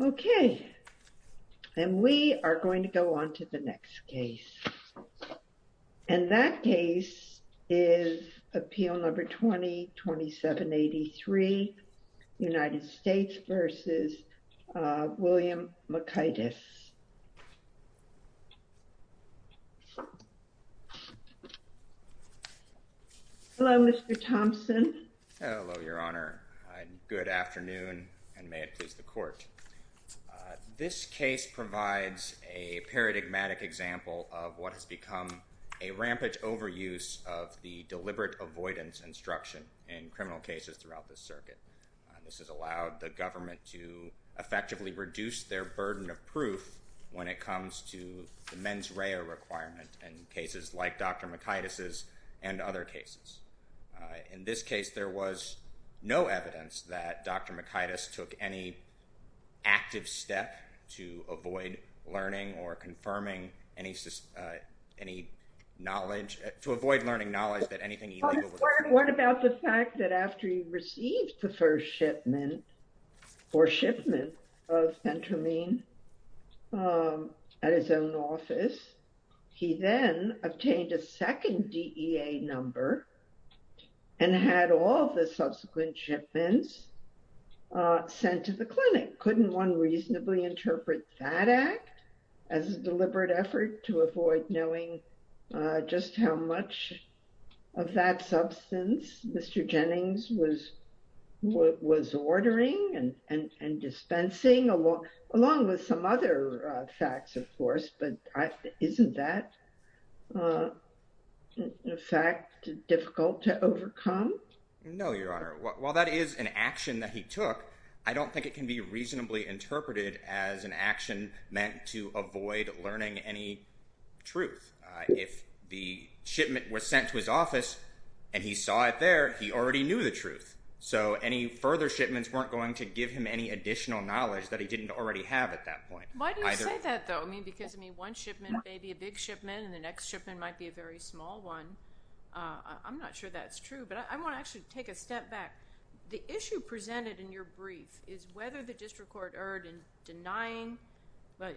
Okay and we are going to go on to the next case and that case is appeal number 20-2783 United States v. William Mikaitis Hello Mr. Thompson. Hello Your Honor. Good afternoon and may it please the court. This case provides a paradigmatic example of what has become a rampage overuse of the deliberate avoidance instruction in criminal cases throughout the circuit. This has allowed the government to effectively reduce their burden of proof when it comes to the mens rea requirement in cases like Dr. Mikaitis' and other cases. In this case, there was no evidence that Dr. Mikaitis took any active step to avoid learning or confirming any knowledge, to avoid learning knowledge that anything illegal. What about the fact that after he received the first shipment or shipment of phentermine at his own office, he then obtained a second DEA number and had all the subsequent shipments sent to the clinic? Couldn't one reasonably interpret that act as a deliberate effort to avoid knowing just how much of that substance Mr. Jennings was ordering and dispensing along with some other facts of course, but isn't that a fact difficult to overcome? No Your Honor. While that is an action that he took, I don't think it can be reasonably interpreted as an action meant to avoid learning any truth. If the shipment was sent to his office and he saw it there, he already knew the truth. So any further shipments weren't going to give him any additional knowledge that he didn't already have at that point. Why do you say that though? I mean, because I mean, one shipment may be a big shipment and the next shipment might be a very small one. I'm not sure that's true, but I want to actually take a step back. The issue presented in your brief is whether the district court erred in denying, I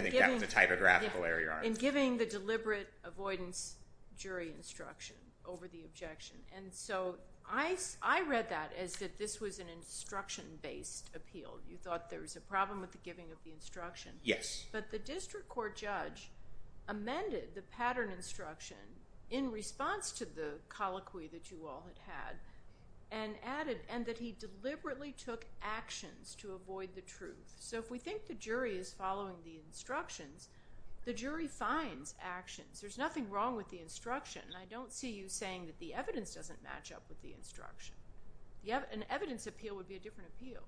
think that was a typographical error, Your Honor. In giving the deliberate avoidance jury instruction over the objection. And so I read that as that this was an instruction based appeal. You thought there was a problem with the giving of the instruction. Yes. But the district court judge amended the pattern instruction in response to the colloquy that you all had had. And added, and that he deliberately took actions to avoid the truth. So if we think the jury is following the instructions, the jury finds actions. There's nothing wrong with the instruction. I don't see you saying that the evidence doesn't match up with the instruction. An evidence appeal would be a different appeal.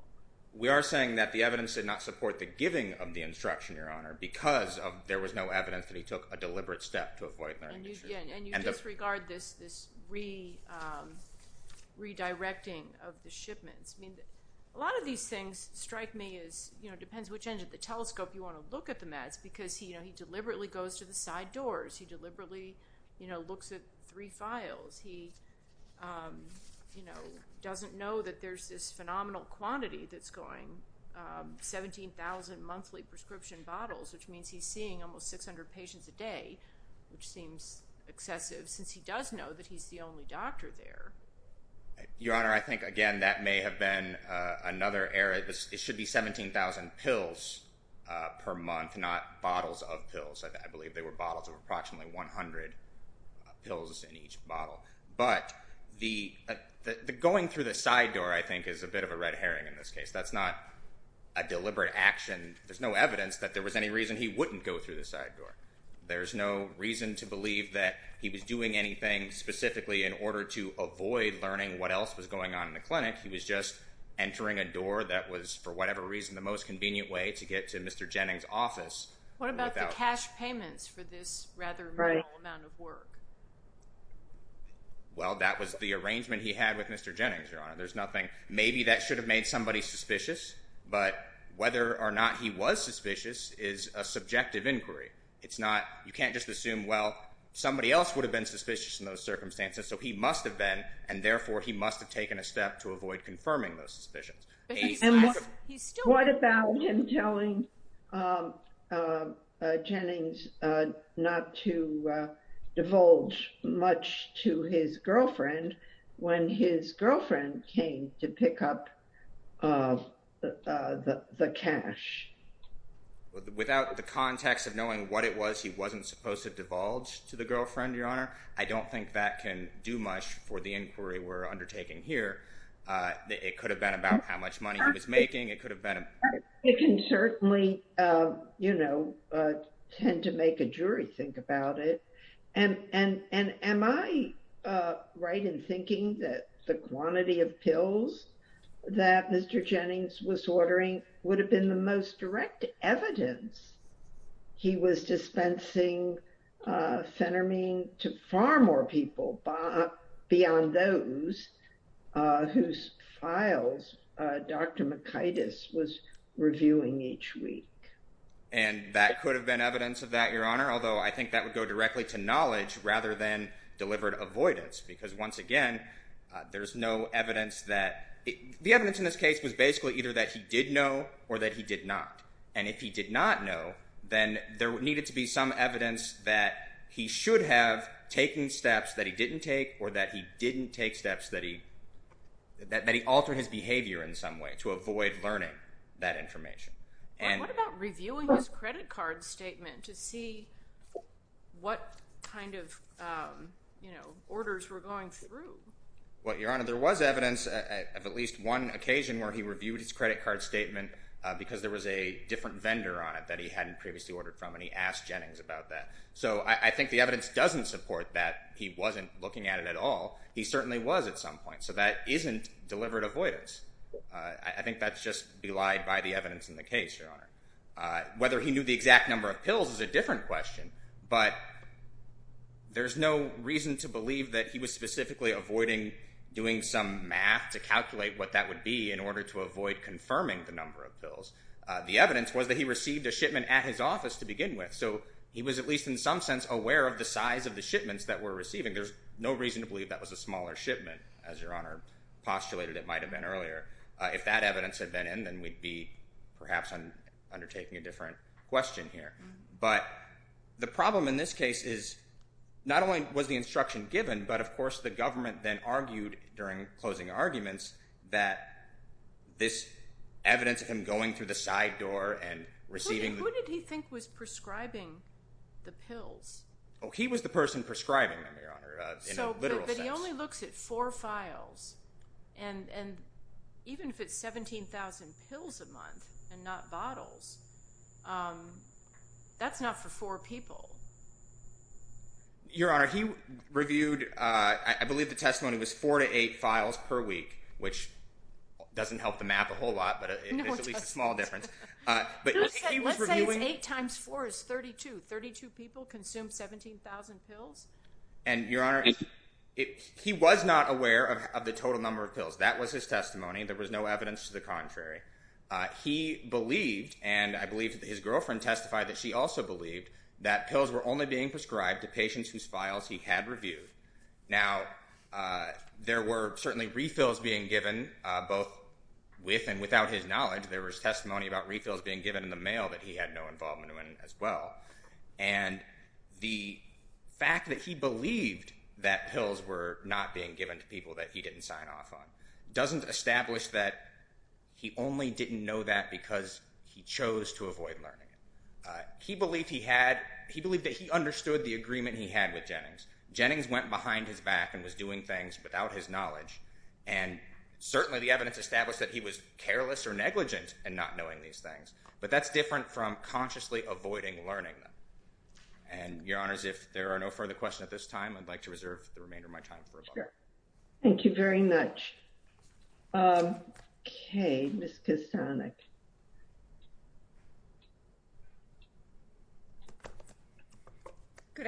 We are saying that the evidence did not support the giving of the instruction, Your Honor, because there was no evidence that he took a deliberate step to avoid marrying the truth. And you disregard this redirecting of the shipments. I mean, a lot of these things strike me as, you know, it depends which end of the telescope you want to look at the mats, because he deliberately goes to the side doors. He deliberately, you know, looks at three files. He, you know, doesn't know that there's this phenomenal quantity that's going, 17,000 monthly prescription bottles, which means he's seeing almost 600 patients a day, which seems excessive, since he does know that he's the only doctor there. Your Honor, I think, again, that may have been another error. It should be 17,000 pills per month, not bottles of pills. I believe they were bottles of approximately 100 pills in each bottle. But the going through the side door, I think, is a bit of a red herring in this case. That's not a deliberate action. There's no evidence that there was any reason he wouldn't go through the side door. There's no reason to believe that he was doing anything specifically in order to avoid learning what else was going on in the clinic. He was just entering a door that was, for whatever reason, the most convenient way to get to Mr. Jennings' office. What about the cash payments for this rather small amount of work? Well, that was the arrangement he had with Mr. Jennings, Your Honor. There's nothing. Maybe that should have made somebody suspicious. But whether or not he was suspicious is a subjective inquiry. You can't just assume, well, somebody else would have been suspicious in those circumstances. So he must have been, and therefore, he must have taken a step to avoid confirming those suspicions. What about him telling Jennings not to divulge much to his girlfriend when his girlfriend came to pick up the cash? Without the context of knowing what it was, he wasn't supposed to divulge to the girlfriend, Your Honor. I don't think that can do much for the inquiry we're undertaking here. It could have been about how much money he was making. It could have been... It can certainly, you know, tend to make a jury think about it. And am I right in thinking that the quantity of pills that Mr. Jennings was ordering would have been the most direct evidence he was dispensing Phenermine to far more people beyond those whose files Dr. McItyus was reviewing each week? And that could have been evidence of that, Your Honor, although I think that would go directly to knowledge rather than delivered avoidance. Because once again, there's no evidence that... The evidence in this case was basically either that he did know or that he did not. And if he did not know, then there needed to be some evidence that he should have taken steps that he didn't take or that he didn't take steps that he... That he altered his behavior in some way to avoid learning that information. What about reviewing his credit card statement to see what kind of, you know, orders were going through? Well, Your Honor, there was evidence of at least one occasion where he reviewed his credit card statement because there was a different vendor on it that he hadn't previously ordered from and he asked Jennings about that. So I think the evidence doesn't support that he wasn't looking at it at all. He certainly was at some point. I think that's just belied by the evidence in the case, Your Honor. Whether he knew the exact number of pills is a different question, but there's no reason to believe that he was specifically avoiding doing some math to calculate what that would be in order to avoid confirming the number of pills. The evidence was that he received a shipment at his office to begin with, so he was at least in some sense aware of the size of the shipments that were receiving. There's no reason to believe that was a smaller shipment, as Your Honor postulated it might have been earlier. If that evidence had been in, then we'd be perhaps undertaking a different question here. But the problem in this case is not only was the instruction given, but of course the government then argued during closing arguments that this evidence of him going through the side door and receiving... Who did he think was prescribing the pills? Oh, he was the person prescribing them, Your Honor. But he only looks at four files, and even if it's 17,000 pills a month and not bottles, that's not for four people. Your Honor, he reviewed, I believe the testimony was four to eight files per week, which doesn't help the map a whole lot, but it's at least a small difference. Let's say it's eight times four is 32. 32 people consume 17,000 pills? And Your Honor, he was not aware of the total number of pills. That was his testimony. There was no evidence to the contrary. He believed, and I believe his girlfriend testified that she also believed, that pills were only being prescribed to patients whose files he had reviewed. Now, there were certainly refills being given, both with and without his knowledge. There was testimony about refills being given in the mail that he had no involvement in as well, and the fact that he believed that pills were not being given to people that he didn't sign off on doesn't establish that he only didn't know that because he chose to avoid learning. He believed that he understood the agreement he had with Jennings. Jennings went behind his back and was doing things without his knowledge, and certainly the evidence established that he was careless or negligent in not knowing these things, but that's different from consciously avoiding learning them. And Your Honors, if there are no further questions at this time, I'd like to reserve the remainder of my time for a vote. Thank you very much. Okay, Ms. Kosanek. Good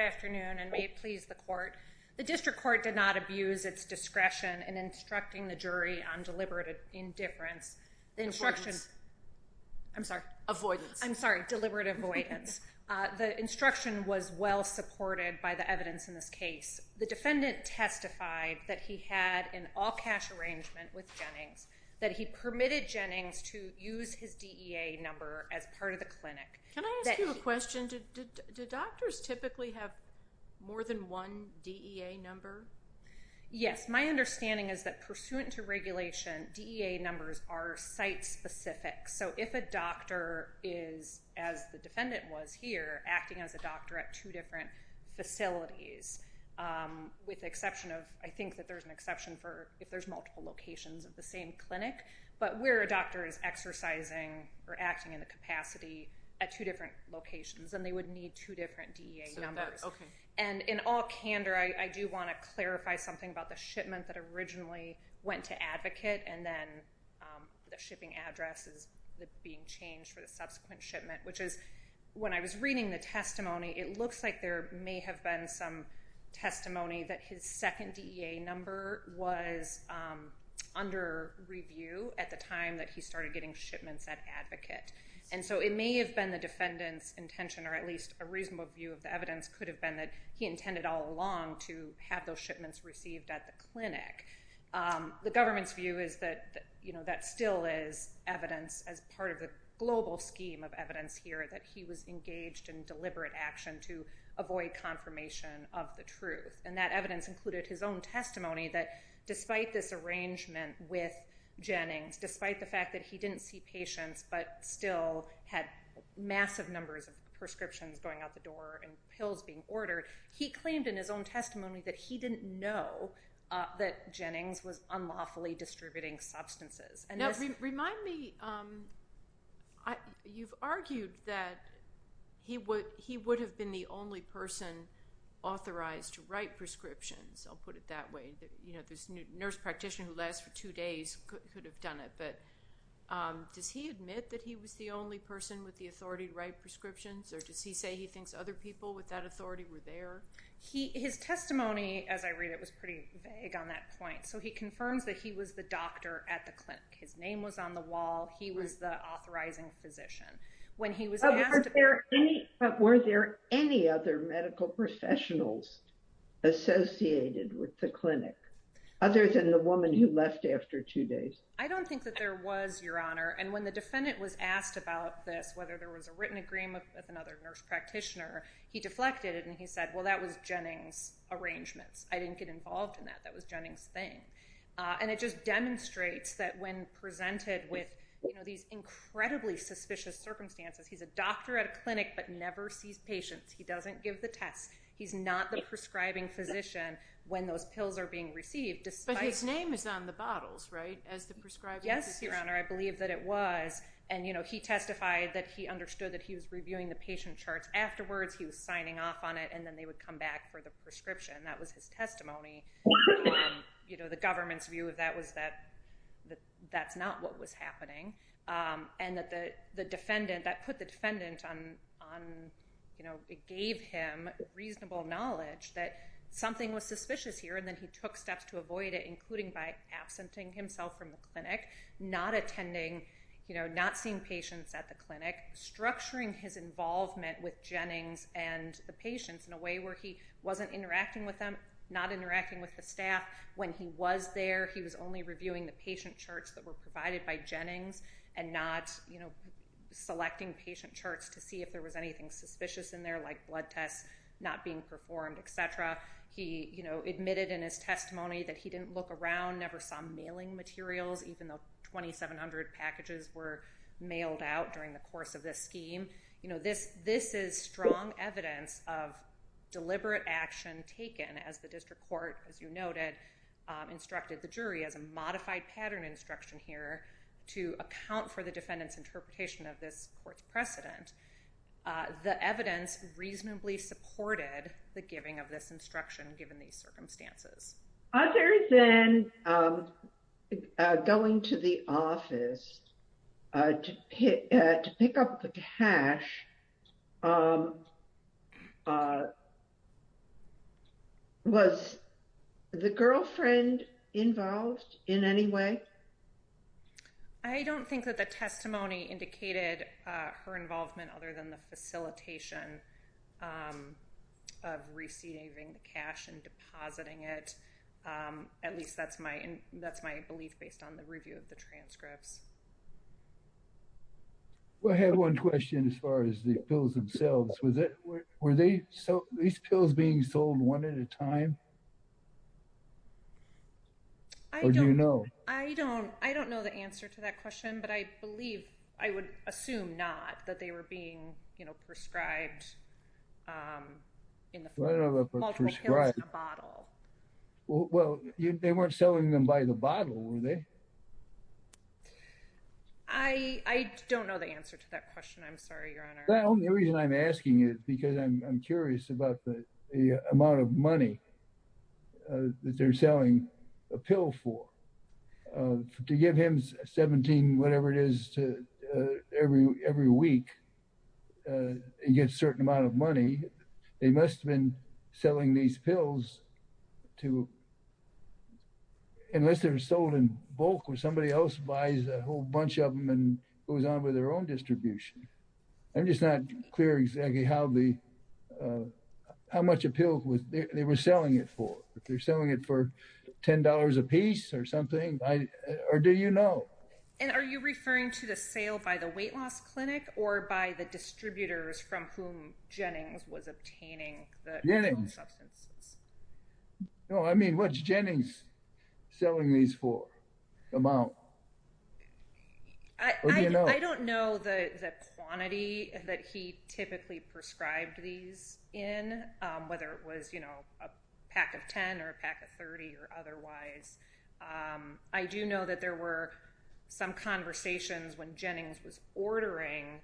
afternoon, and may it please the Court. The District Court did not abuse its discretion in instructing the jury on deliberate indifference. The instruction, I'm sorry. Avoidance. I'm sorry, deliberate avoidance. The instruction was well supported by the evidence in this case. The defendant testified that he had an all-cash arrangement with Jennings, that he permitted Jennings to use his DEA number as part of the clinic. Can I ask you a question? Do doctors typically have more than one DEA number? Yes, my understanding is that pursuant to regulation, DEA numbers are site-specific. So if a doctor is, as the defendant was here, acting as a doctor at two different facilities, with the exception of, I think that there's an exception for if there's multiple locations of the same clinic, but where a doctor is exercising or acting in the capacity at two different locations, then they would need two different DEA numbers. And in all candor, I do want to clarify something about the shipment that originally went to Advocate, and then the shipping address is being changed for the subsequent shipment, which is, when I was reading the report, it looks like there may have been some testimony that his second DEA number was under review at the time that he started getting shipments at Advocate. And so it may have been the defendant's intention, or at least a reasonable view of the evidence, could have been that he intended all along to have those shipments received at the clinic. The government's view is that, you know, that still is evidence, as part of the global scheme of evidence here, that he was avoiding confirmation of the truth. And that evidence included his own testimony that, despite this arrangement with Jennings, despite the fact that he didn't see patients but still had massive numbers of prescriptions going out the door and pills being ordered, he claimed in his own testimony that he didn't know that Jennings was unlawfully distributing substances. Now, remind me, you've argued that he would have been the only person authorized to write prescriptions, I'll put it that way. You know, this nurse practitioner who lasts for two days could have done it, but does he admit that he was the only person with the authority to write prescriptions, or does he say he thinks other people with that authority were there? His testimony, as I read it, was pretty vague on that point. So he confirms that he was the doctor at the clinic. His name was on the wall. He was the authorizing physician. When he was asked- But were there any other medical professionals associated with the clinic, other than the woman who left after two days? I don't think that there was, Your Honor. And when the defendant was asked about this, whether there was a written agreement with another nurse practitioner, he deflected it and he said, well, that was Jennings' arrangements. I didn't get involved in that. That was Jennings' thing. And it just demonstrates that when presented with these incredibly suspicious circumstances, he's a doctor at a clinic but never sees patients. He doesn't give the tests. He's not the prescribing physician when those pills are being received, despite- But his name is on the bottles, right, as the prescribing physician? Yes, Your Honor, I believe that it was. And he testified that he understood that he was reviewing the patient charts afterwards, he was signing off on it, and then they would come back for the prescription. That was his testimony. You know, the government's view of that was that that's not what was happening. And that the defendant, that put the defendant on, you know, it gave him reasonable knowledge that something was suspicious here, and then he took steps to avoid it, including by absenting himself from the clinic, not attending, you know, not seeing patients at the clinic, structuring his involvement with Jennings and the patients in a way where he wasn't interacting with them, not interacting with the staff. When he was there, he was only reviewing the patient charts that were provided by Jennings and not, you know, selecting patient charts to see if there was anything suspicious in there, like blood tests not being performed, et cetera. He, you know, admitted in his testimony that he didn't look around, never saw mailing materials, even though 2,700 packages were mailed out during the course of this scheme. You know, this is strong evidence of deliberate action taken as the district court, as you noted, instructed the jury as a modified pattern instruction here to account for the defendant's interpretation of this court's precedent. The evidence reasonably supported the giving of this instruction given these circumstances. Other than going to the office to pick up the cash was the girlfriend involved in any way? I don't think that the testimony indicated her involvement other than the facilitation of receiving the cash and depositing it. At least that's my belief based on the review of the transcripts. I had one question as far as the pills themselves. Were these pills being sold one at a time? I don't know. I don't know the answer to that question, but I believe, I would assume not, that they were being prescribed in the form of multiple pills in a bottle. Well, they weren't selling them by the bottle, were they? I don't know the answer to that question. I'm sorry, Your Honor. Well, the only reason I'm asking is because I'm curious about the amount of money that they're selling a pill for. To give him 17, whatever it is, to every week and get a certain amount of money, they must have been selling these pills to, unless they were sold in bulk where somebody else buys a whole bunch of them and goes on with their own distribution. I'm just not clear exactly how much a pill they were selling it for. If they're selling it for $10 a piece or something, or do you know? And are you referring to the sale by the weight loss clinic or by the distributors from whom Jennings was obtaining the substances? No, I mean, what's Jennings selling these for, the amount? I don't know the quantity that he typically prescribed these in, whether it was a pack of 10 or a pack of 30 or otherwise. I do know that there were some conversations when Jennings was ordering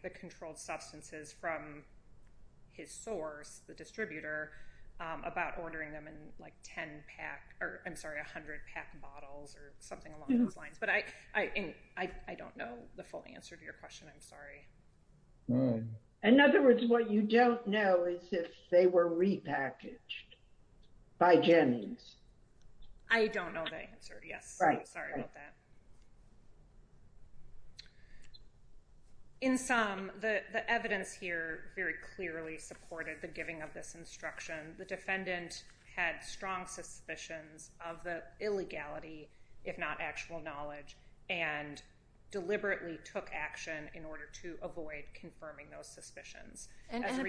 them in like 10 pack or I'm sorry, a hundred pack bottles or something along those lines. But I don't know the full answer to your question. I'm sorry. In other words, what you don't know is if they were repackaged by Jennings. I don't know the answer. Yes. Sorry about that. In sum, the evidence here very clearly supported the giving of this instruction. The defendant had strong suspicions of the illegality, if not actual knowledge, and deliberately took action in order to avoid confirming those suspicions.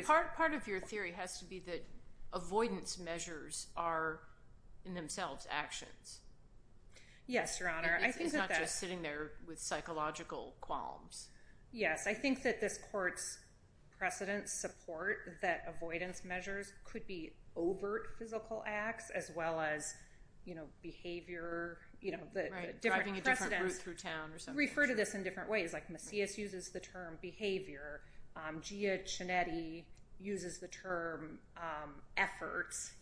Part of your theory has to be that avoidance measures are in themselves actions. Yes, Your Honor. It's not just sitting there with psychological qualms. Yes. I think that this court's precedent support that avoidance measures could be overt physical acts as well as behavior. Driving a different route through town or something. Refer to this in different ways. Macias uses the term behavior. Gia Cianetti uses the term efforts.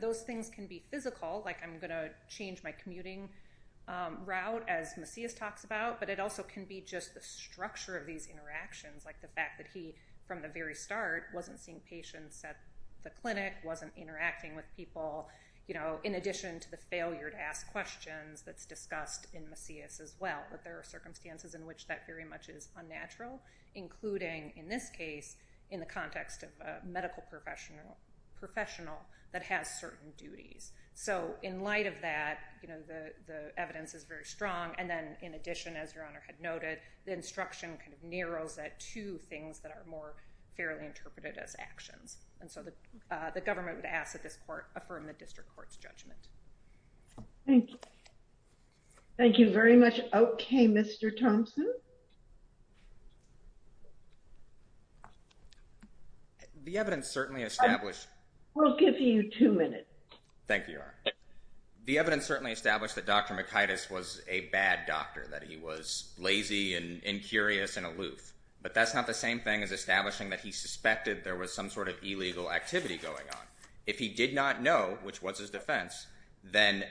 Those things can be physical, like I'm going to change my commuting route as Macias talks about, but it also can be just the structure of these interactions, like the fact that he, from the very start, wasn't seeing patients at the clinic, wasn't interacting with people, in addition to the failure to ask questions that's discussed in Macias as well. There are circumstances in which that very much is unnatural, including in this case, in the context of a medical professional that has certain duties. In light of that, the evidence is very strong. And then in addition, as Your Honor had noted, the instruction kind of narrows that to things that are more fairly interpreted as actions. And so the government would ask that this court affirm the district court's judgment. Thank you. Thank you very much. Okay, Mr. Thompson. The evidence certainly established. We'll give you two minutes. Thank you, Your Honor. The evidence certainly established that Dr. Macias was a bad doctor, that he was lazy and curious and aloof, but that's not the same thing as establishing that he suspected there was some sort of illegal activity going on. If he did not know, which was his defense, then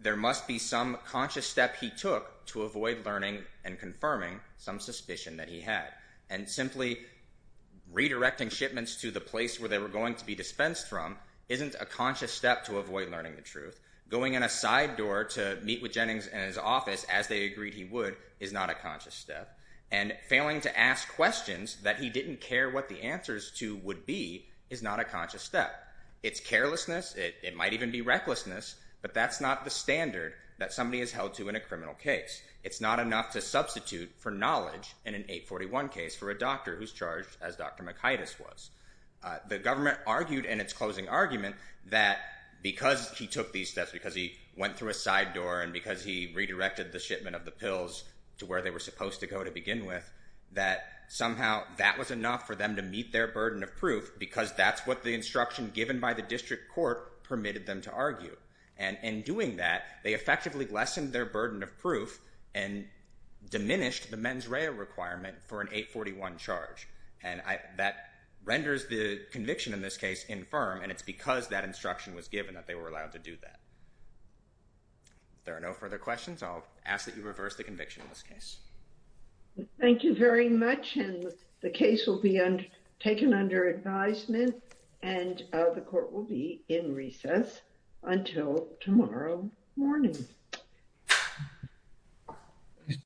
there must be some conscious step he took to avoid learning and confirming some suspicion that he had. And simply redirecting shipments to the place where they were going to be dispensed from isn't a conscious step to avoid learning the truth. Going in a side door to meet with Jennings and his office as they agreed he would is not a conscious step. And failing to ask questions that he didn't care what the answers to would be is not a conscious step. It's carelessness. It might even be recklessness, but that's not the standard that somebody is held to in a criminal case. It's not enough to substitute for knowledge in an 841 case for a doctor who's charged as Dr. Macias was. The government argued in its closing argument that because he took these steps, because he went through a side door and because he redirected the shipment of the pills to where they were supposed to go to begin with, that somehow that was enough for them to meet their burden of proof because that's what the instruction given by the district court permitted them to argue. And in doing that, they effectively lessened their burden of proof and diminished the mens rea requirement for an 841 charge. And that renders the conviction in this case infirm, and it's because that instruction was given that they were allowed to do that. If there are no further questions, I'll ask that you reverse the conviction in this case. Thank you very much, and the case will be taken under advisement, and the court will be in recess until tomorrow morning.